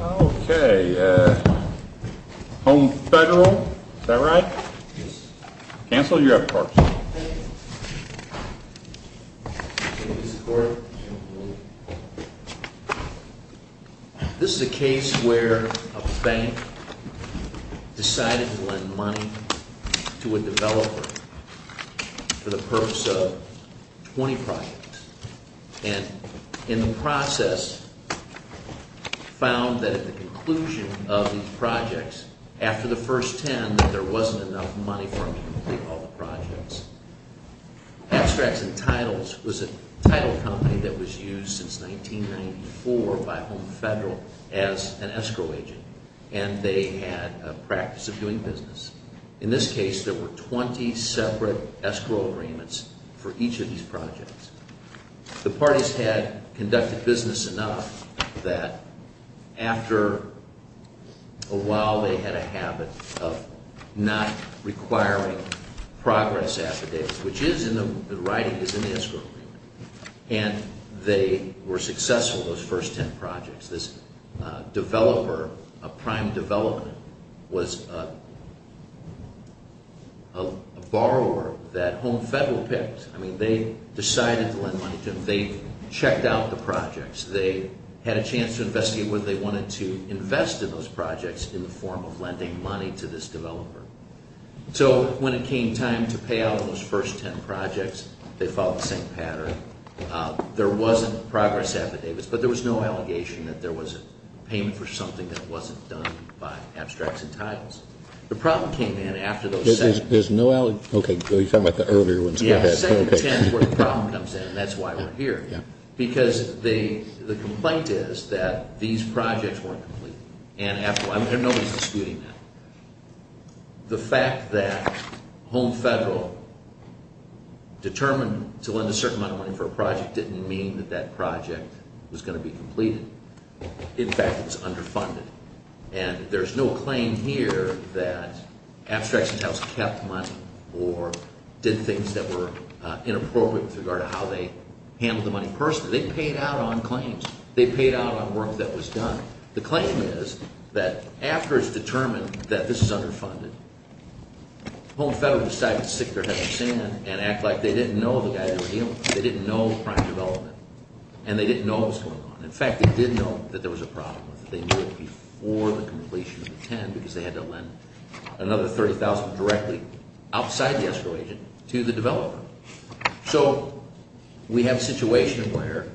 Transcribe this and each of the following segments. Okay, Home Federal, is that right? Yes. Counsel, you're up first. This is a case where a bank decided to lend money to a developer for the purpose of 20 projects and in the process found that at the conclusion of these projects, after the first 10, there wasn't enough money for them to complete all the projects. Abstracts & Titles was a title company that was used since 1994 by Home Federal as an escrow agent and they had a practice of doing business. In this case, there were 20 separate escrow agreements for each of these projects. The parties had conducted business enough that after a while they had a habit of not requiring progress affidavits, which is, in the writing, is an escrow agreement. And they were successful, those first 10 projects. This developer, a prime developer, was a borrower that Home Federal picked. I mean, they decided to lend money to him. They checked out the projects. They had a chance to investigate whether they wanted to invest in those projects in the form of lending money to this developer. So when it came time to pay out those first 10 projects, they followed the same pattern. There wasn't progress affidavits, but there was no allegation that there was a payment for something that wasn't done by Abstracts & Titles. The problem came in after those 10. There's no allegation? Okay, so you're talking about the earlier ones. Yes, the second 10 is where the problem comes in and that's why we're here. Because the complaint is that these projects weren't complete. Nobody's disputing that. The fact that Home Federal determined to lend a certain amount of money for a project didn't mean that that project was going to be completed. In fact, it was underfunded. And there's no claim here that Abstracts & Titles kept money or did things that were inappropriate with regard to how they handled the money personally. They paid out on claims. They paid out on work that was done. The claim is that after it's determined that this is underfunded, Home Federal decided to stick their head in the sand and act like they didn't know the guy they were dealing with. They didn't know the crime development and they didn't know what was going on. In fact, they did know that there was a problem with it. They knew it before the completion of the 10 because they had to lend another $30,000 directly outside the escrow agent to the developer. So we have a situation where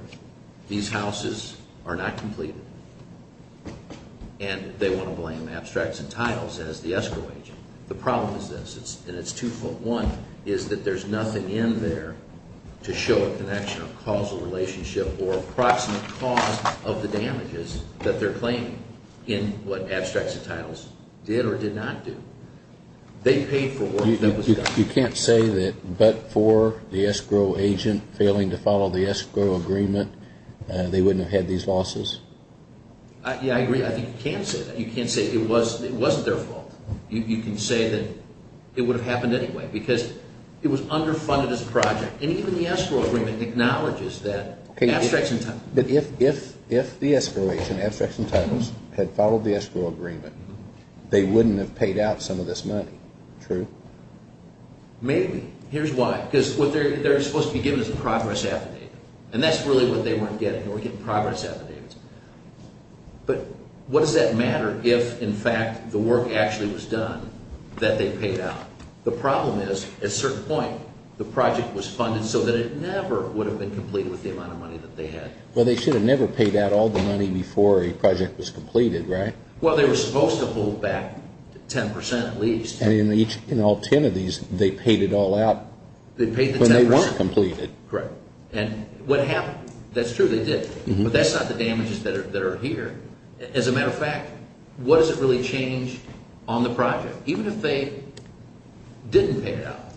these houses are not completed and they want to blame Abstracts & Titles as the escrow agent. The problem is this, and it's two-foot-one, is that there's nothing in there to show a connection or causal relationship or approximate cause of the damages that they're claiming in what Abstracts & Titles did or did not do. They paid for work that was done. You can't say that but for the escrow agent failing to follow the escrow agreement, they wouldn't have had these losses? Yeah, I agree. I think you can say that. You can't say it wasn't their fault. You can say that it would have happened anyway because it was underfunded as a project. And even the escrow agreement acknowledges that Abstracts & Titles – But if the escrow agent, Abstracts & Titles, had followed the escrow agreement, they wouldn't have paid out some of this money, true? Maybe. Here's why. Because what they're supposed to be given is a progress affidavit. And that's really what they weren't getting. They were getting progress affidavits. But what does that matter if, in fact, the work actually was done that they paid out? The problem is, at a certain point, the project was funded so that it never would have been completed with the amount of money that they had. Well, they should have never paid out all the money before a project was completed, right? Well, they were supposed to hold back 10% at least. And in all 10 of these, they paid it all out when they weren't completed. Correct. And what happened – that's true, they did. But that's not the damages that are here. As a matter of fact, what does it really change on the project? Even if they didn't pay it out,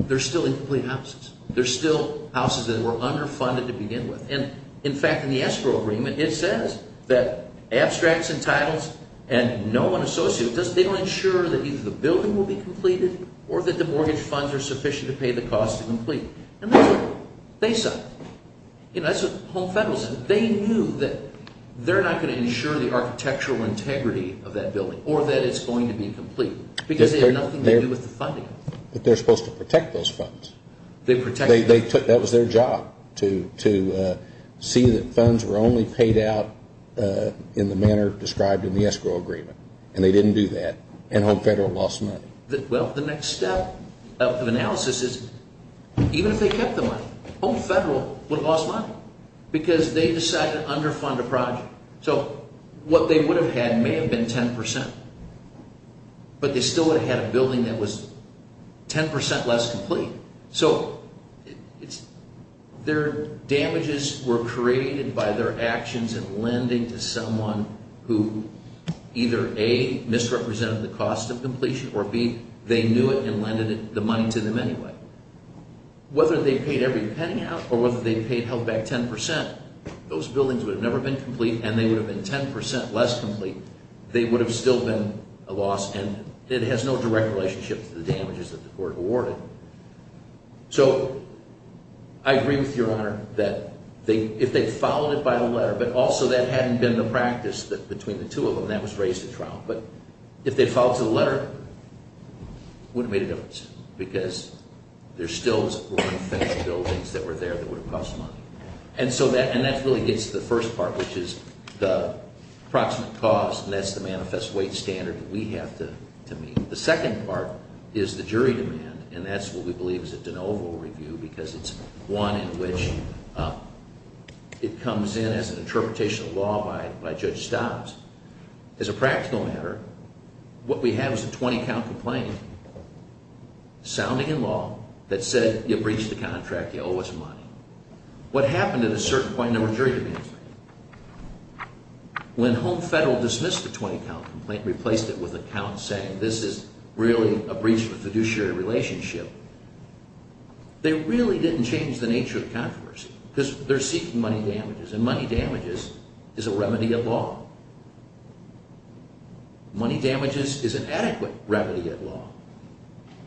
they're still incomplete houses. They're still houses that were underfunded to begin with. And, in fact, in the escrow agreement, it says that abstracts and titles and no one associated with those – they don't ensure that either the building will be completed or that the mortgage funds are sufficient to pay the cost to complete. And that's what they said. That's what the home federal said. They knew that they're not going to ensure the architectural integrity of that building or that it's going to be complete. Because they have nothing to do with the funding. But they're supposed to protect those funds. That was their job, to see that funds were only paid out in the manner described in the escrow agreement. And they didn't do that. And home federal lost money. Well, the next step of analysis is even if they kept the money, home federal would have lost money. Because they decided to underfund a project. So what they would have had may have been 10 percent. But they still would have had a building that was 10 percent less complete. So their damages were created by their actions in lending to someone who either, A, misrepresented the cost of completion, or, B, they knew it and lended the money to them anyway. Whether they paid every penny out or whether they paid back 10 percent, those buildings would have never been complete and they would have been 10 percent less complete. They would have still been a loss. And it has no direct relationship to the damages that the court awarded. So I agree with Your Honor that if they followed it by the letter, but also that hadn't been the practice between the two of them, that was raised at trial. But if they followed the letter, it wouldn't have made a difference. Because there still were unfinished buildings that were there that would have cost money. And so that really gets to the first part, which is the approximate cost, and that's the manifest weight standard that we have to meet. The second part is the jury demand, and that's what we believe is a de novo review because it's one in which it comes in as an interpretation of law by Judge Stobbs. As a practical matter, what we have is a 20-count complaint, sounding in law, that said you breached the contract, you owe us money. What happened at a certain point in the jury demands, when Home Federal dismissed the 20-count complaint, replaced it with a count saying this is really a breach of a fiduciary relationship, they really didn't change the nature of controversy because they're seeking money damages, and money damages is a remedy of law. Money damages is an adequate remedy of law.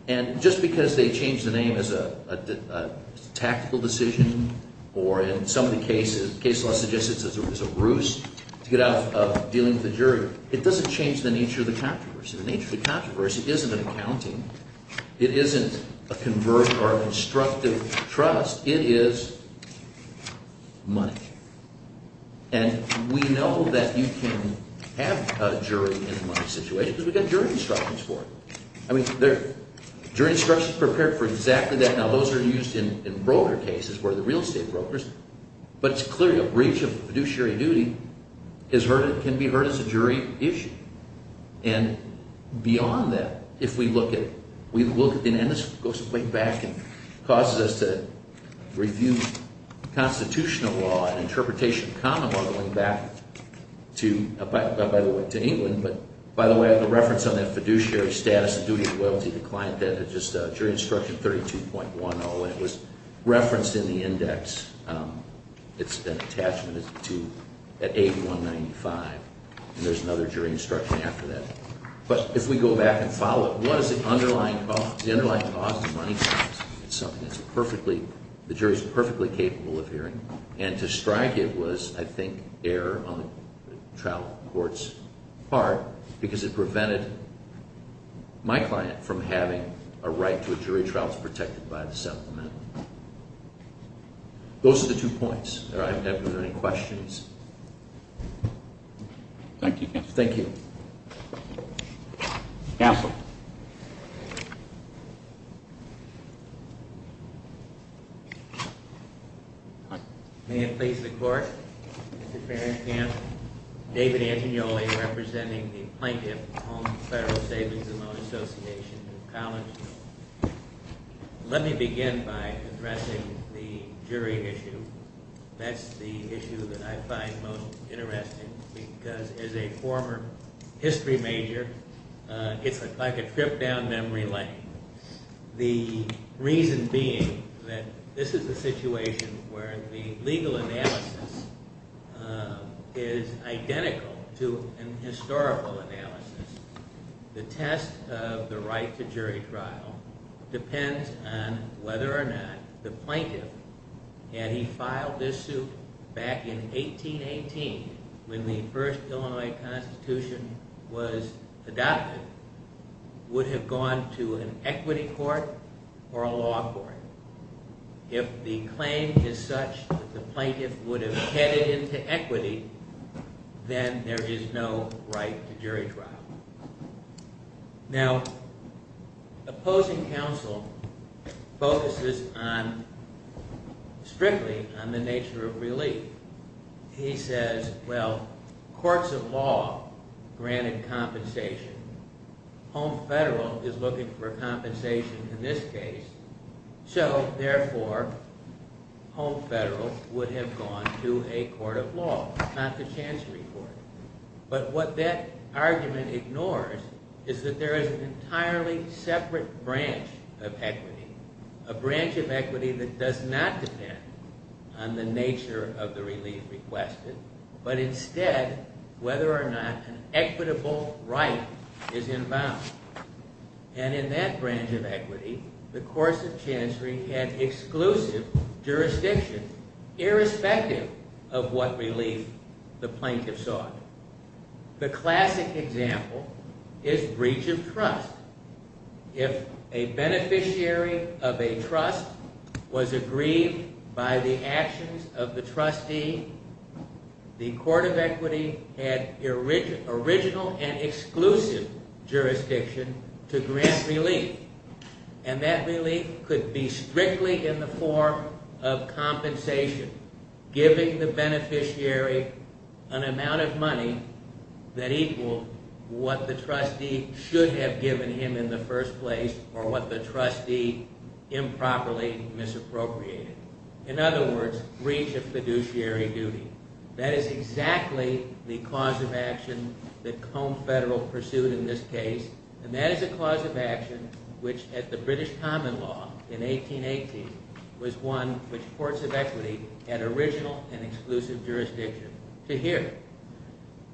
And just because they changed the name as a tactical decision, or in some of the cases, case law suggests it's a ruse to get out of dealing with the jury, it doesn't change the nature of the controversy. The nature of the controversy isn't an accounting. It isn't a convert or an instructive trust. It is money. And we know that you can have a jury in a money situation because we've got jury instructions for it. I mean, jury instructions prepared for exactly that. Now, those are used in broker cases where the real estate brokers, but it's clear a breach of fiduciary duty can be heard as a jury issue. And beyond that, if we look at – and this goes way back and causes us to review constitutional law and interpretation of common law going back to England. But, by the way, the reference on that fiduciary status and duty of loyalty to the client, that's just jury instruction 32.10. It was referenced in the index. It's an attachment to – at 8195. And there's another jury instruction after that. But if we go back and follow it, what is the underlying cause? The underlying cause is money damage. It's something that's perfectly – the jury's perfectly capable of hearing. And to strike it was, I think, error on the trial court's part because it prevented my client from having a right to a jury trial that's protected by the settlement. Those are the two points. Are there any questions? Thank you, counsel. Thank you. Counsel. May it please the court. Mr. Fairenkamp, David Angioli representing the Plaintiff Home Federal Savings and Loan Association College. Let me begin by addressing the jury issue. That's the issue that I find most interesting because as a former history major, it's like a trip down memory lane. The reason being that this is a situation where the legal analysis is identical to an historical analysis. The test of the right to jury trial depends on whether or not the plaintiff, had he filed this suit back in 1818 when the first Illinois Constitution was adopted, would have gone to an equity court or a law court. If the claim is such that the plaintiff would have headed into equity, then there is no right to jury trial. Now, opposing counsel focuses strictly on the nature of relief. He says, well, courts of law granted compensation. Home Federal is looking for compensation in this case. So, therefore, Home Federal would have gone to a court of law, not the Chancery Court. But what that argument ignores is that there is an entirely separate branch of equity. A branch of equity that does not depend on the nature of the relief requested, but instead whether or not an equitable right is involved. And in that branch of equity, the courts of Chancery had exclusive jurisdictions, irrespective of what relief the plaintiff sought. The classic example is breach of trust. If a beneficiary of a trust was aggrieved by the actions of the trustee, the court of equity had original and exclusive jurisdiction to grant relief. And that relief could be strictly in the form of compensation, giving the beneficiary an amount of money that equaled what the trustee should have given him in the first place or what the trustee improperly misappropriated. In other words, breach of fiduciary duty. That is exactly the cause of action that Home Federal pursued in this case. And that is the cause of action which, at the British Common Law in 1818, was one which courts of equity had original and exclusive jurisdiction to hear.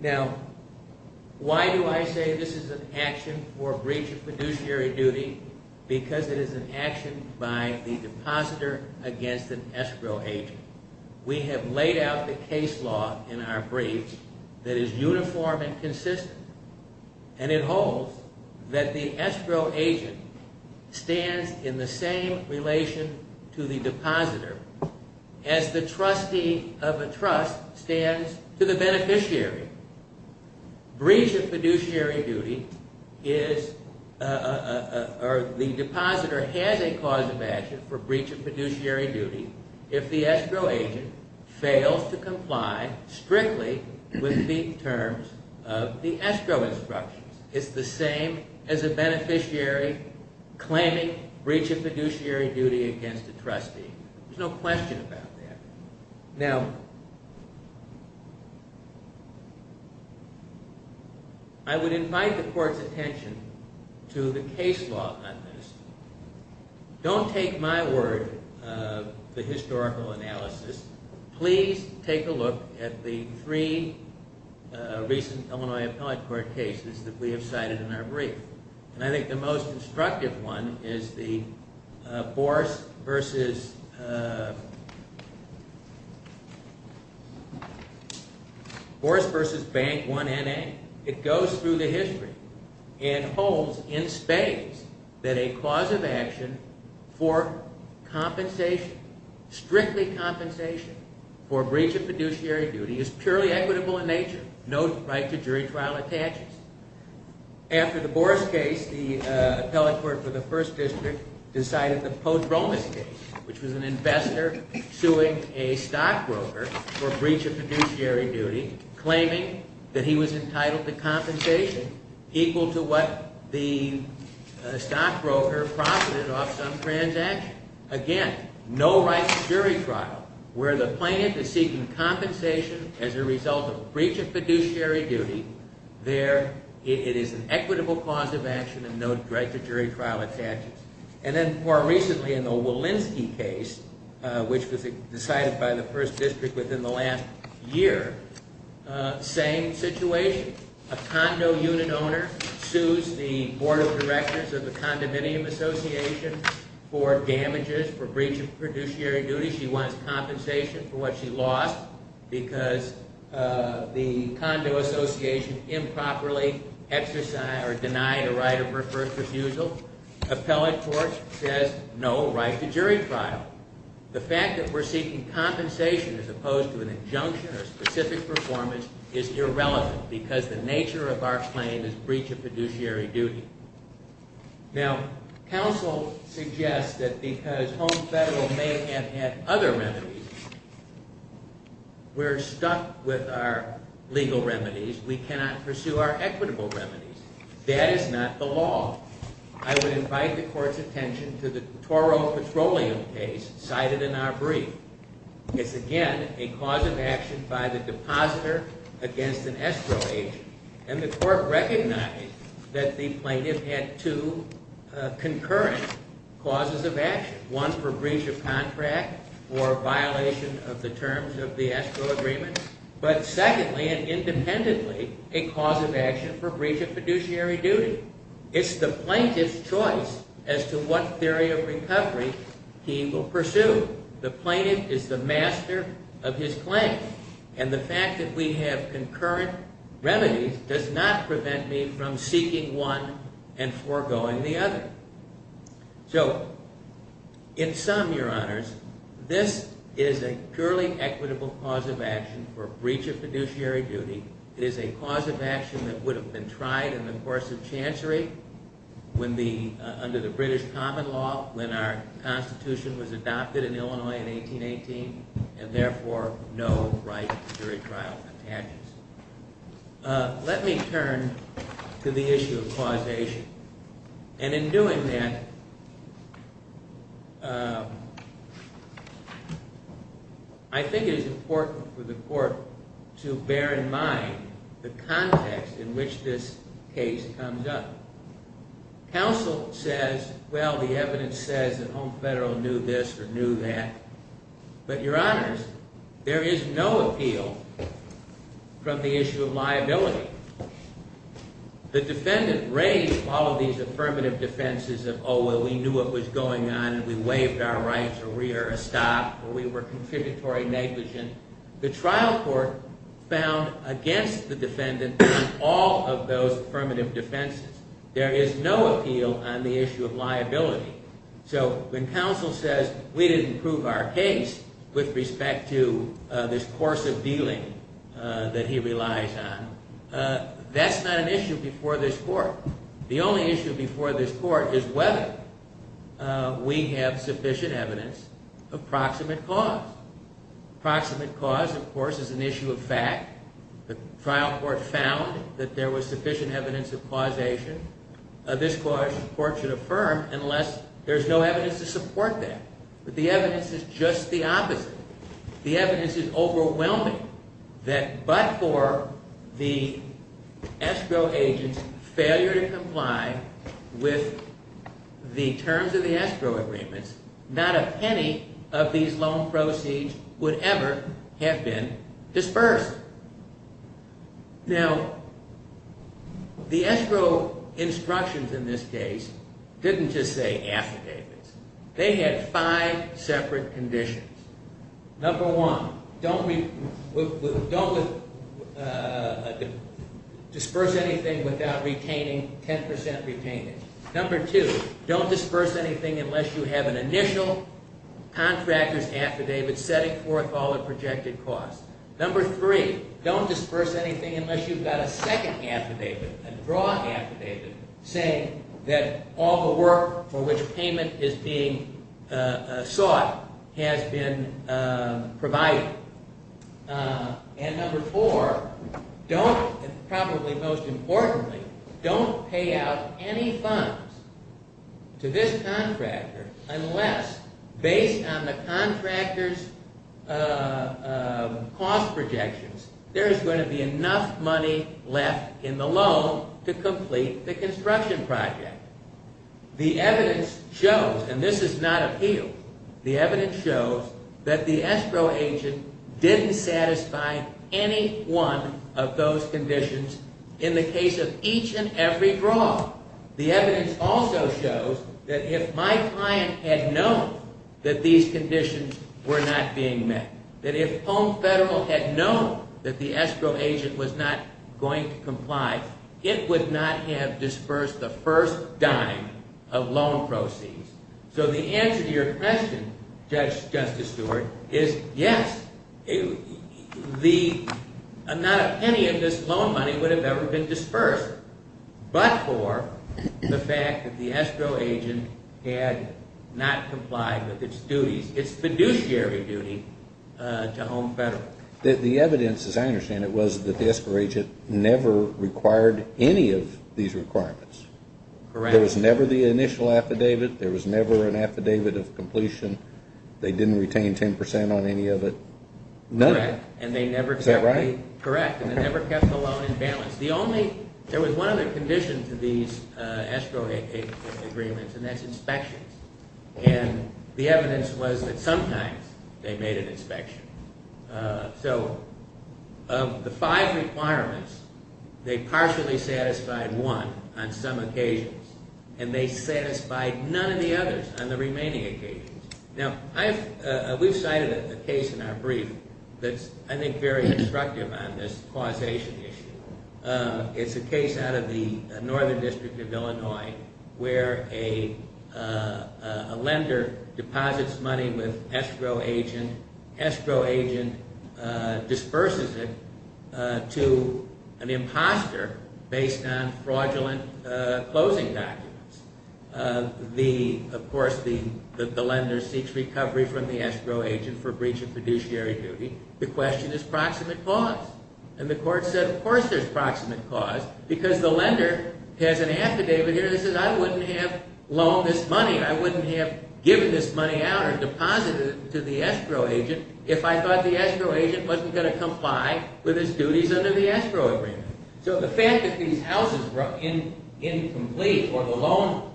Now, why do I say this is an action for breach of fiduciary duty? Because it is an action by the depositor against an escrow agent. We have laid out the case law in our briefs that is uniform and consistent. And it holds that the escrow agent stands in the same relation to the depositor as the trustee of a trust stands to the beneficiary. Breach of fiduciary duty is, or the depositor has a cause of action for breach of fiduciary duty if the escrow agent fails to comply strictly with the terms of the escrow instructions. It's the same as a beneficiary claiming breach of fiduciary duty against a trustee. There's no question about that. Now, I would invite the court's attention to the case law on this. Don't take my word of the historical analysis. Please take a look at the three recent Illinois Appellate Court cases that we have cited in our brief. And I think the most instructive one is the Boris versus Bank 1NA. It goes through the history and holds in spades that a cause of action for compensation, strictly compensation, for breach of fiduciary duty is purely equitable in nature. No right to jury trial attaches. After the Boris case, the Appellate Court for the First District decided the Post Romas case, which was an investor suing a stockbroker for breach of fiduciary duty, claiming that he was entitled to compensation equal to what the stockbroker profited off some transaction. Again, no right to jury trial. Where the plaintiff is seeking compensation as a result of breach of fiduciary duty, it is an equitable cause of action and no right to jury trial attaches. And then more recently in the Walensky case, which was decided by the First District within the last year, same situation. A condo unit owner sues the board of directors of the condominium association for damages for breach of fiduciary duty. She wants compensation for what she lost because the condo association improperly exercised or denied a right of first refusal. Appellate Court says no right to jury trial. The fact that we're seeking compensation as opposed to an injunction or specific performance is irrelevant because the nature of our claim is breach of fiduciary duty. Now, counsel suggests that because Home Federal may have had other remedies, we're stuck with our legal remedies. We cannot pursue our equitable remedies. That is not the law. I would invite the Court's attention to the Toro Petroleum case cited in our brief. It's, again, a cause of action by the depositor against an escrow agent. And the Court recognized that the plaintiff had two concurrent causes of action. One, for breach of contract or violation of the terms of the escrow agreement. But secondly and independently, a cause of action for breach of fiduciary duty. It's the plaintiff's choice as to what theory of recovery he will pursue. The plaintiff is the master of his claim. And the fact that we have concurrent remedies does not prevent me from seeking one and foregoing the other. So in sum, Your Honors, this is a purely equitable cause of action for breach of fiduciary duty. It is a cause of action that would have been tried in the course of Chancery under the British Common Law when our Constitution was adopted in Illinois in 1818, and therefore no right to jury trial contagious. Let me turn to the issue of causation. And in doing that, I think it is important for the Court to bear in mind the context in which this case comes up. Counsel says, well, the evidence says that Home Federal knew this or knew that. But, Your Honors, there is no appeal from the issue of liability. The defendant raised all of these affirmative defenses of, oh, well, we knew what was going on, and we waived our rights, or we are a stop, or we were contributory negligent. The trial court found against the defendant on all of those affirmative defenses. There is no appeal on the issue of liability. So when counsel says we didn't prove our case with respect to this course of dealing that he relies on, that's not an issue before this Court. The only issue before this Court is whether we have sufficient evidence of proximate cause. Proximate cause, of course, is an issue of fact. The trial court found that there was sufficient evidence of causation. This clause, of course, should affirm unless there is no evidence to support that. But the evidence is just the opposite. The evidence is overwhelming that but for the escrow agent's failure to comply with the terms of the escrow agreements, not a penny of these loan proceeds would ever have been dispersed. Now, the escrow instructions in this case didn't just say affidavits. They had five separate conditions. Number one, don't disperse anything without retaining 10% retainment. Number two, don't disperse anything unless you have an initial contractor's affidavit setting forth all the projected costs. Number three, don't disperse anything unless you've got a second affidavit, a draw affidavit, saying that all the work for which payment is being sought has been provided. And number four, probably most importantly, don't pay out any funds to this contractor unless, based on the contractor's cost projections, there is going to be enough money left in the loan to complete the construction project. The evidence shows, and this is not appeal, the evidence shows that the escrow agent didn't satisfy any one of those conditions in the case of each and every draw. The evidence also shows that if my client had known that these conditions were not being met, that if Home Federal had known that the escrow agent was not going to comply, it would not have dispersed the first dime of loan proceeds. So the answer to your question, Justice Stewart, is yes, not a penny of this loan money would have ever been dispersed but for the fact that the escrow agent had not complied with its duties, its fiduciary duty to Home Federal. The evidence, as I understand it, was that the escrow agent never required any of these requirements. Correct. There was never the initial affidavit. There was never an affidavit of completion. They didn't retain 10 percent on any of it. None of it. Correct. Is that right? Correct. And they never kept the loan in balance. There was one other condition to these escrow agents' agreements, and that's inspections. And the evidence was that sometimes they made an inspection. So of the five requirements, they partially satisfied one on some occasions, and they satisfied none of the others on the remaining occasions. Now, we've cited a case in our brief that's, I think, very instructive on this causation issue. It's a case out of the Northern District of Illinois where a lender deposits money with escrow agent, escrow agent disperses it to an imposter based on fraudulent closing documents. Of course, the lender seeks recovery from the escrow agent for breach of fiduciary duty. The question is proximate cause. And the court said, of course there's proximate cause because the lender has an affidavit here that says, I wouldn't have loaned this money, I wouldn't have given this money out or deposited it to the escrow agent if I thought the escrow agent wasn't going to comply with his duties under the escrow agreement. So the fact that these houses were incomplete or the loan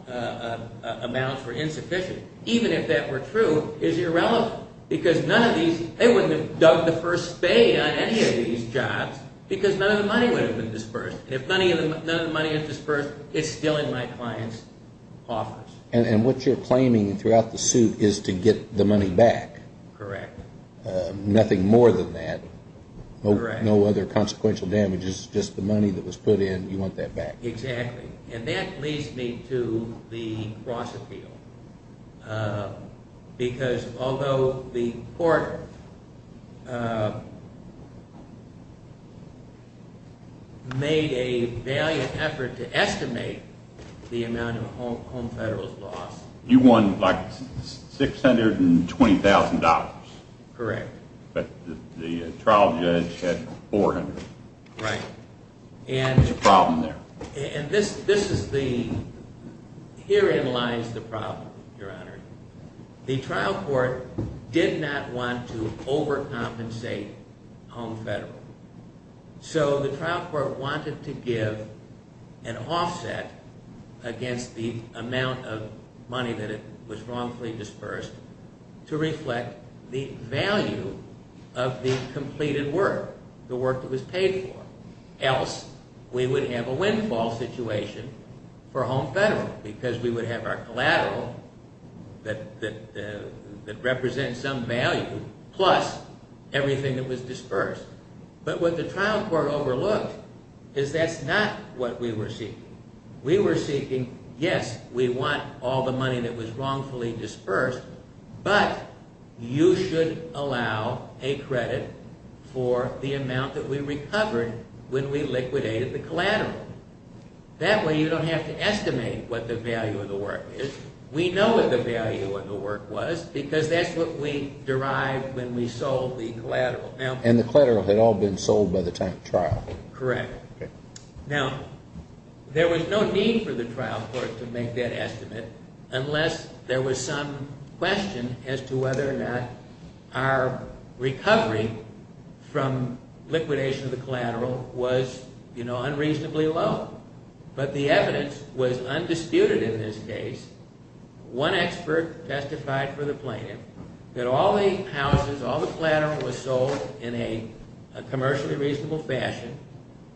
amounts were insufficient, even if that were true, is irrelevant because none of these, they wouldn't have dug the first spade on any of these jobs because none of the money would have been dispersed. And if none of the money is dispersed, it's still in my client's office. And what you're claiming throughout the suit is to get the money back. Correct. Nothing more than that. Correct. No other consequential damages, just the money that was put in. You want that back. Exactly. And that leads me to the cross-appeal. Because although the court made a valiant effort to estimate the amount of home federals lost. You won like $620,000. Correct. But the trial judge had $400,000. Right. There's a problem there. And this is the, herein lies the problem, Your Honor. The trial court did not want to overcompensate home federal. So the trial court wanted to give an offset against the amount of money that was wrongfully dispersed to reflect the value of the completed work, the work that was paid for. Else we would have a windfall situation for home federal. Because we would have our collateral that represents some value plus everything that was dispersed. But what the trial court overlooked is that's not what we were seeking. We were seeking, yes, we want all the money that was wrongfully dispersed. But you should allow a credit for the amount that we recovered when we liquidated the collateral. That way you don't have to estimate what the value of the work is. We know what the value of the work was because that's what we derived when we sold the collateral. And the collateral had all been sold by the time of trial. Correct. Now, there was no need for the trial court to make that estimate unless there was some question as to whether or not our recovery from liquidation of the collateral was, you know, unreasonably low. But the evidence was undisputed in this case. One expert testified for the plaintiff that all the houses, all the collateral was sold in a commercially reasonable fashion,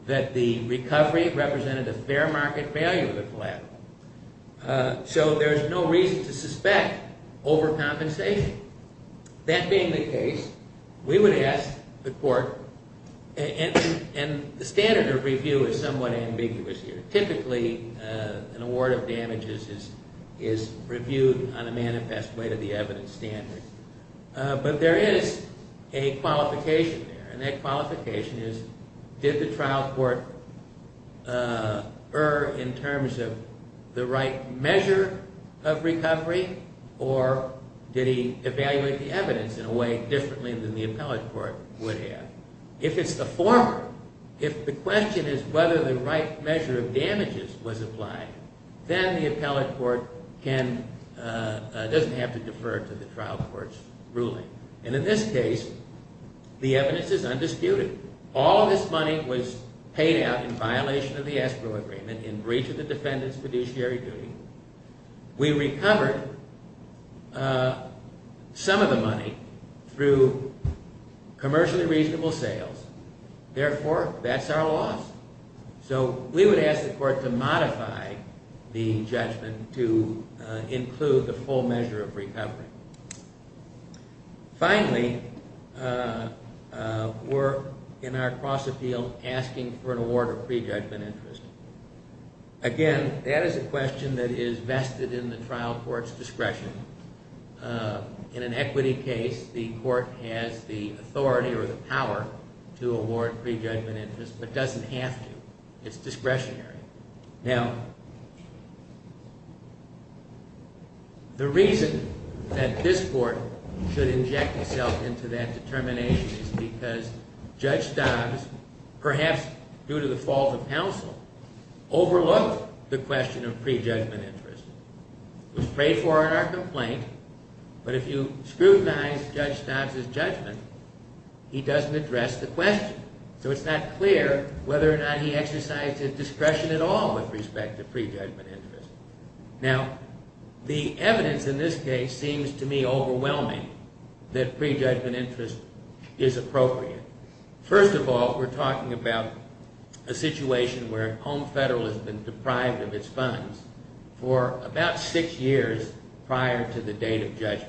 that the recovery represented a fair market value of the collateral. So there's no reason to suspect overcompensation. That being the case, we would ask the court, and the standard of review is somewhat ambiguous here. Typically, an award of damages is reviewed on a manifest way to the evidence standard. But there is a qualification there, and that qualification is did the trial court err in terms of the right measure of recovery or did he evaluate the evidence in a way differently than the appellate court would have? If it's the former, if the question is whether the right measure of damages was applied, then the appellate court doesn't have to defer to the trial court's ruling. And in this case, the evidence is undisputed. All of this money was paid out in violation of the escrow agreement in breach of the defendant's fiduciary duty. We recovered some of the money through commercially reasonable sales. Therefore, that's our loss. So we would ask the court to modify the judgment to include the full measure of recovery. Finally, we're, in our cross-appeal, asking for an award of prejudgment interest. Again, that is a question that is vested in the trial court's discretion. In an equity case, the court has the authority or the power to award prejudgment interest but doesn't have to. It's discretionary. Now, the reason that this court should inject itself into that determination is because Judge Dobbs, perhaps due to the fault of counsel, overlooked the question of prejudgment interest. It was prayed for in our complaint, but if you scrutinize Judge Dobbs' judgment, he doesn't address the question. So it's not clear whether or not he exercised his discretion at all with respect to prejudgment interest. Now, the evidence in this case seems to me overwhelming that prejudgment interest is appropriate. First of all, we're talking about a situation where Home Federal has been deprived of its funds for about six years prior to the date of judgment.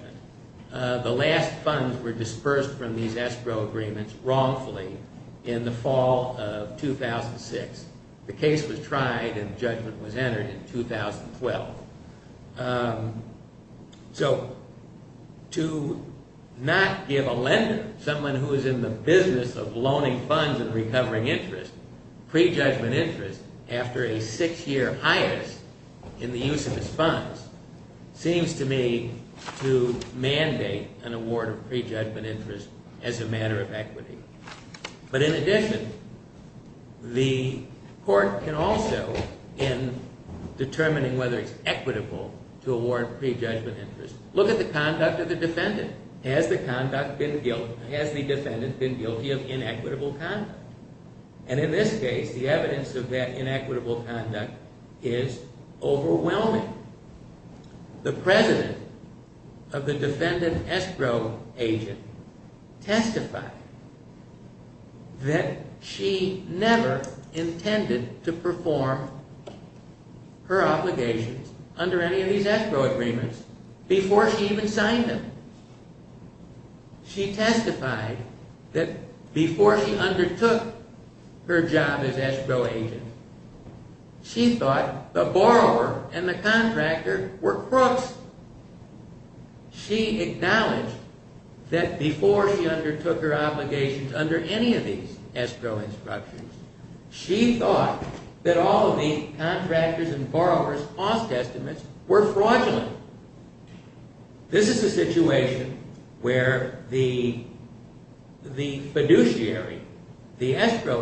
The last funds were dispersed from these escrow agreements wrongfully in the fall of 2006. The case was tried and judgment was entered in 2012. So to not give a lender, someone who is in the business of loaning funds and recovering interest, prejudgment interest after a six-year hiatus in the use of his funds seems to me to mandate an award of prejudgment interest as a matter of equity. But in addition, the court can also, in determining whether it's equitable to award prejudgment interest, look at the conduct of the defendant. Has the defendant been guilty of inequitable conduct? And in this case, the evidence of that inequitable conduct is overwhelming. The president of the defendant escrow agent testified that she never intended to perform her obligations under any of these escrow agreements before she even signed them. She testified that before she undertook her job as escrow agent, she thought the borrower and the contractor were crooks. She acknowledged that before she undertook her obligations under any of these escrow instructions, she thought that all of these contractors' and borrowers' cost estimates were fraudulent. This is a situation where the fiduciary, the escrow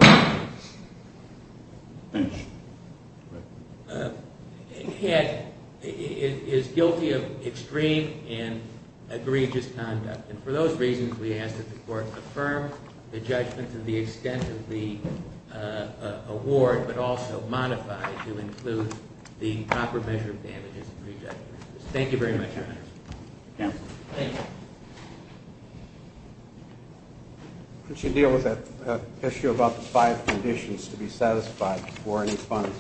agent, is guilty of extreme and egregious conduct. And for those reasons, we ask that the court affirm the judgment to the extent of the award, but also modify to include the proper measure of damages and prejudgment. Thank you very much, Your Honor. Counsel? Thank you. Could you deal with that issue about the five conditions to be satisfied before any funds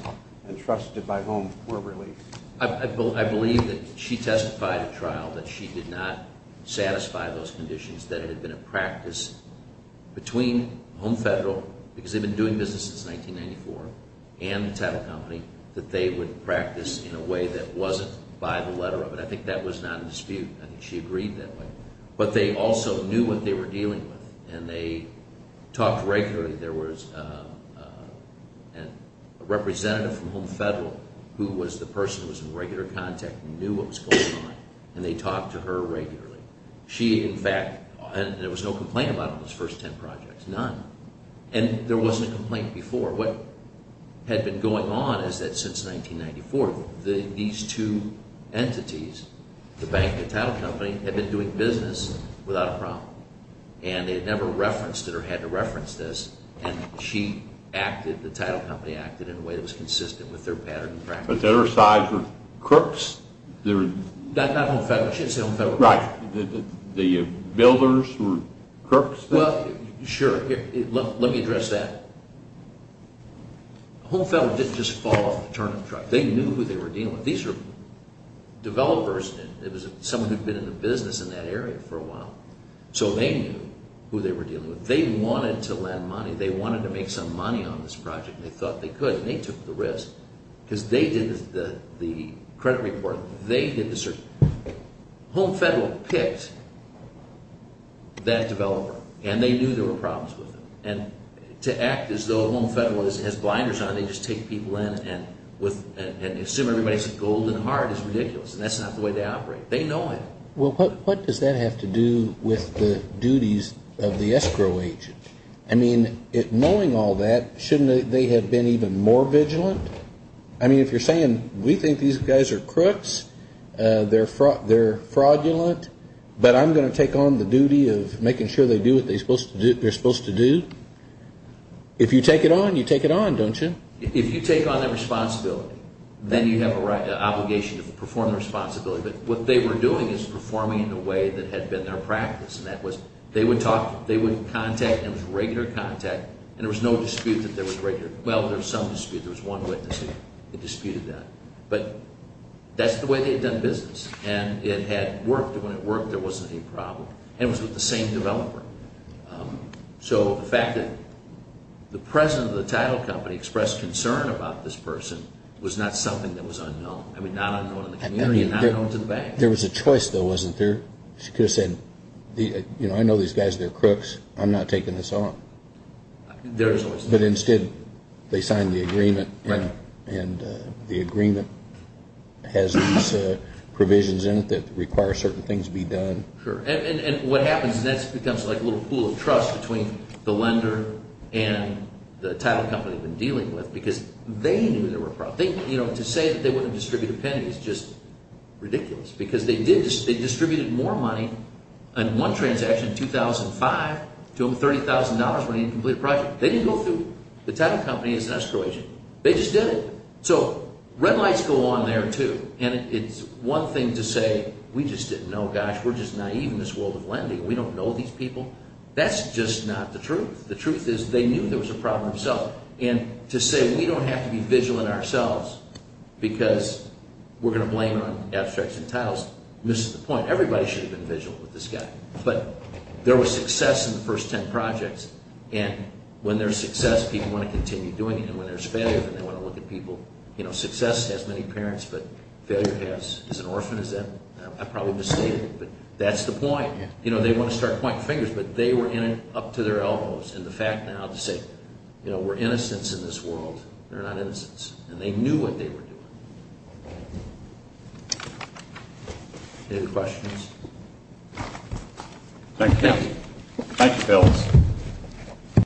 entrusted by HOME were released? I believe that she testified at trial that she did not satisfy those conditions, that it had been a practice between HOME Federal, because they've been doing business since 1994, and the title company, that they would practice in a way that wasn't by the letter of it. I think that was not in dispute. I think she agreed that way. But they also knew what they were dealing with, and they talked regularly. There was a representative from HOME Federal who was the person who was in regular contact and knew what was going on, and they talked to her regularly. She, in fact, there was no complaint about it in those first ten projects. None. And there wasn't a complaint before. What had been going on is that since 1994, these two entities, the bank and the title company, had been doing business without a problem. And they had never referenced it or had to reference this, and she acted, the title company acted in a way that was consistent with their pattern and practice. But their sides were crooks? Not HOME Federal. I should say HOME Federal. Right. The builders were crooks? Well, sure. Let me address that. HOME Federal didn't just fall off the turnip truck. They knew who they were dealing with. These were developers, and it was someone who had been in the business in that area for a while. So they knew who they were dealing with. They wanted to lend money. They wanted to make some money on this project, and they thought they could, and they took the risk, because they did the credit report. HOME Federal picked that developer, and they knew there were problems with them. And to act as though HOME Federal has blinders on, they just take people in and assume everybody's golden heart is ridiculous, and that's not the way they operate. They know it. Well, what does that have to do with the duties of the escrow agent? I mean, knowing all that, shouldn't they have been even more vigilant? I mean, if you're saying, we think these guys are crooks, they're fraudulent, but I'm going to take on the duty of making sure they do what they're supposed to do. If you take it on, you take it on, don't you? If you take on that responsibility, then you have an obligation to perform the responsibility. But what they were doing is performing in the way that had been their practice, and that was they would talk, they would contact, and it was regular contact, and there was no dispute that there was regular. Well, there was some dispute. There was one witness that disputed that. But that's the way they had done business, and it had worked. And when it worked, there wasn't any problem. And it was with the same developer. So the fact that the president of the title company expressed concern about this person was not something that was unknown. I mean, not unknown in the community and not known to the bank. There was a choice, though, wasn't there? She could have said, you know, I know these guys, they're crooks. I'm not taking this on. But instead, they signed the agreement, and the agreement has these provisions in it that require certain things be done. Sure, and what happens is that becomes like a little pool of trust between the lender and the title company they've been dealing with because they knew there were problems. You know, to say that they wouldn't distribute a penny is just ridiculous because they distributed more money on one transaction in 2005 to them with $30,000 when they didn't complete a project. They didn't go through. The title company is an escrow agent. They just did it. So red lights go on there, too. And it's one thing to say, we just didn't know. Gosh, we're just naive in this world of lending. We don't know these people. That's just not the truth. The truth is they knew there was a problem themselves. And to say we don't have to be vigilant ourselves because we're going to blame it on abstracts and titles misses the point. Everybody should have been vigilant with this guy. But there was success in the first ten projects. And when there's success, people want to continue doing it. And when there's failure, then they want to look at people. You know, success has many parents, but failure has an orphan. I probably misstated, but that's the point. You know, they want to start pointing fingers, but they were up to their elbows. And the fact now to say, you know, we're innocents in this world. They're not innocents. And they knew what they were doing. Any other questions? Thank you. Thank you, fellas.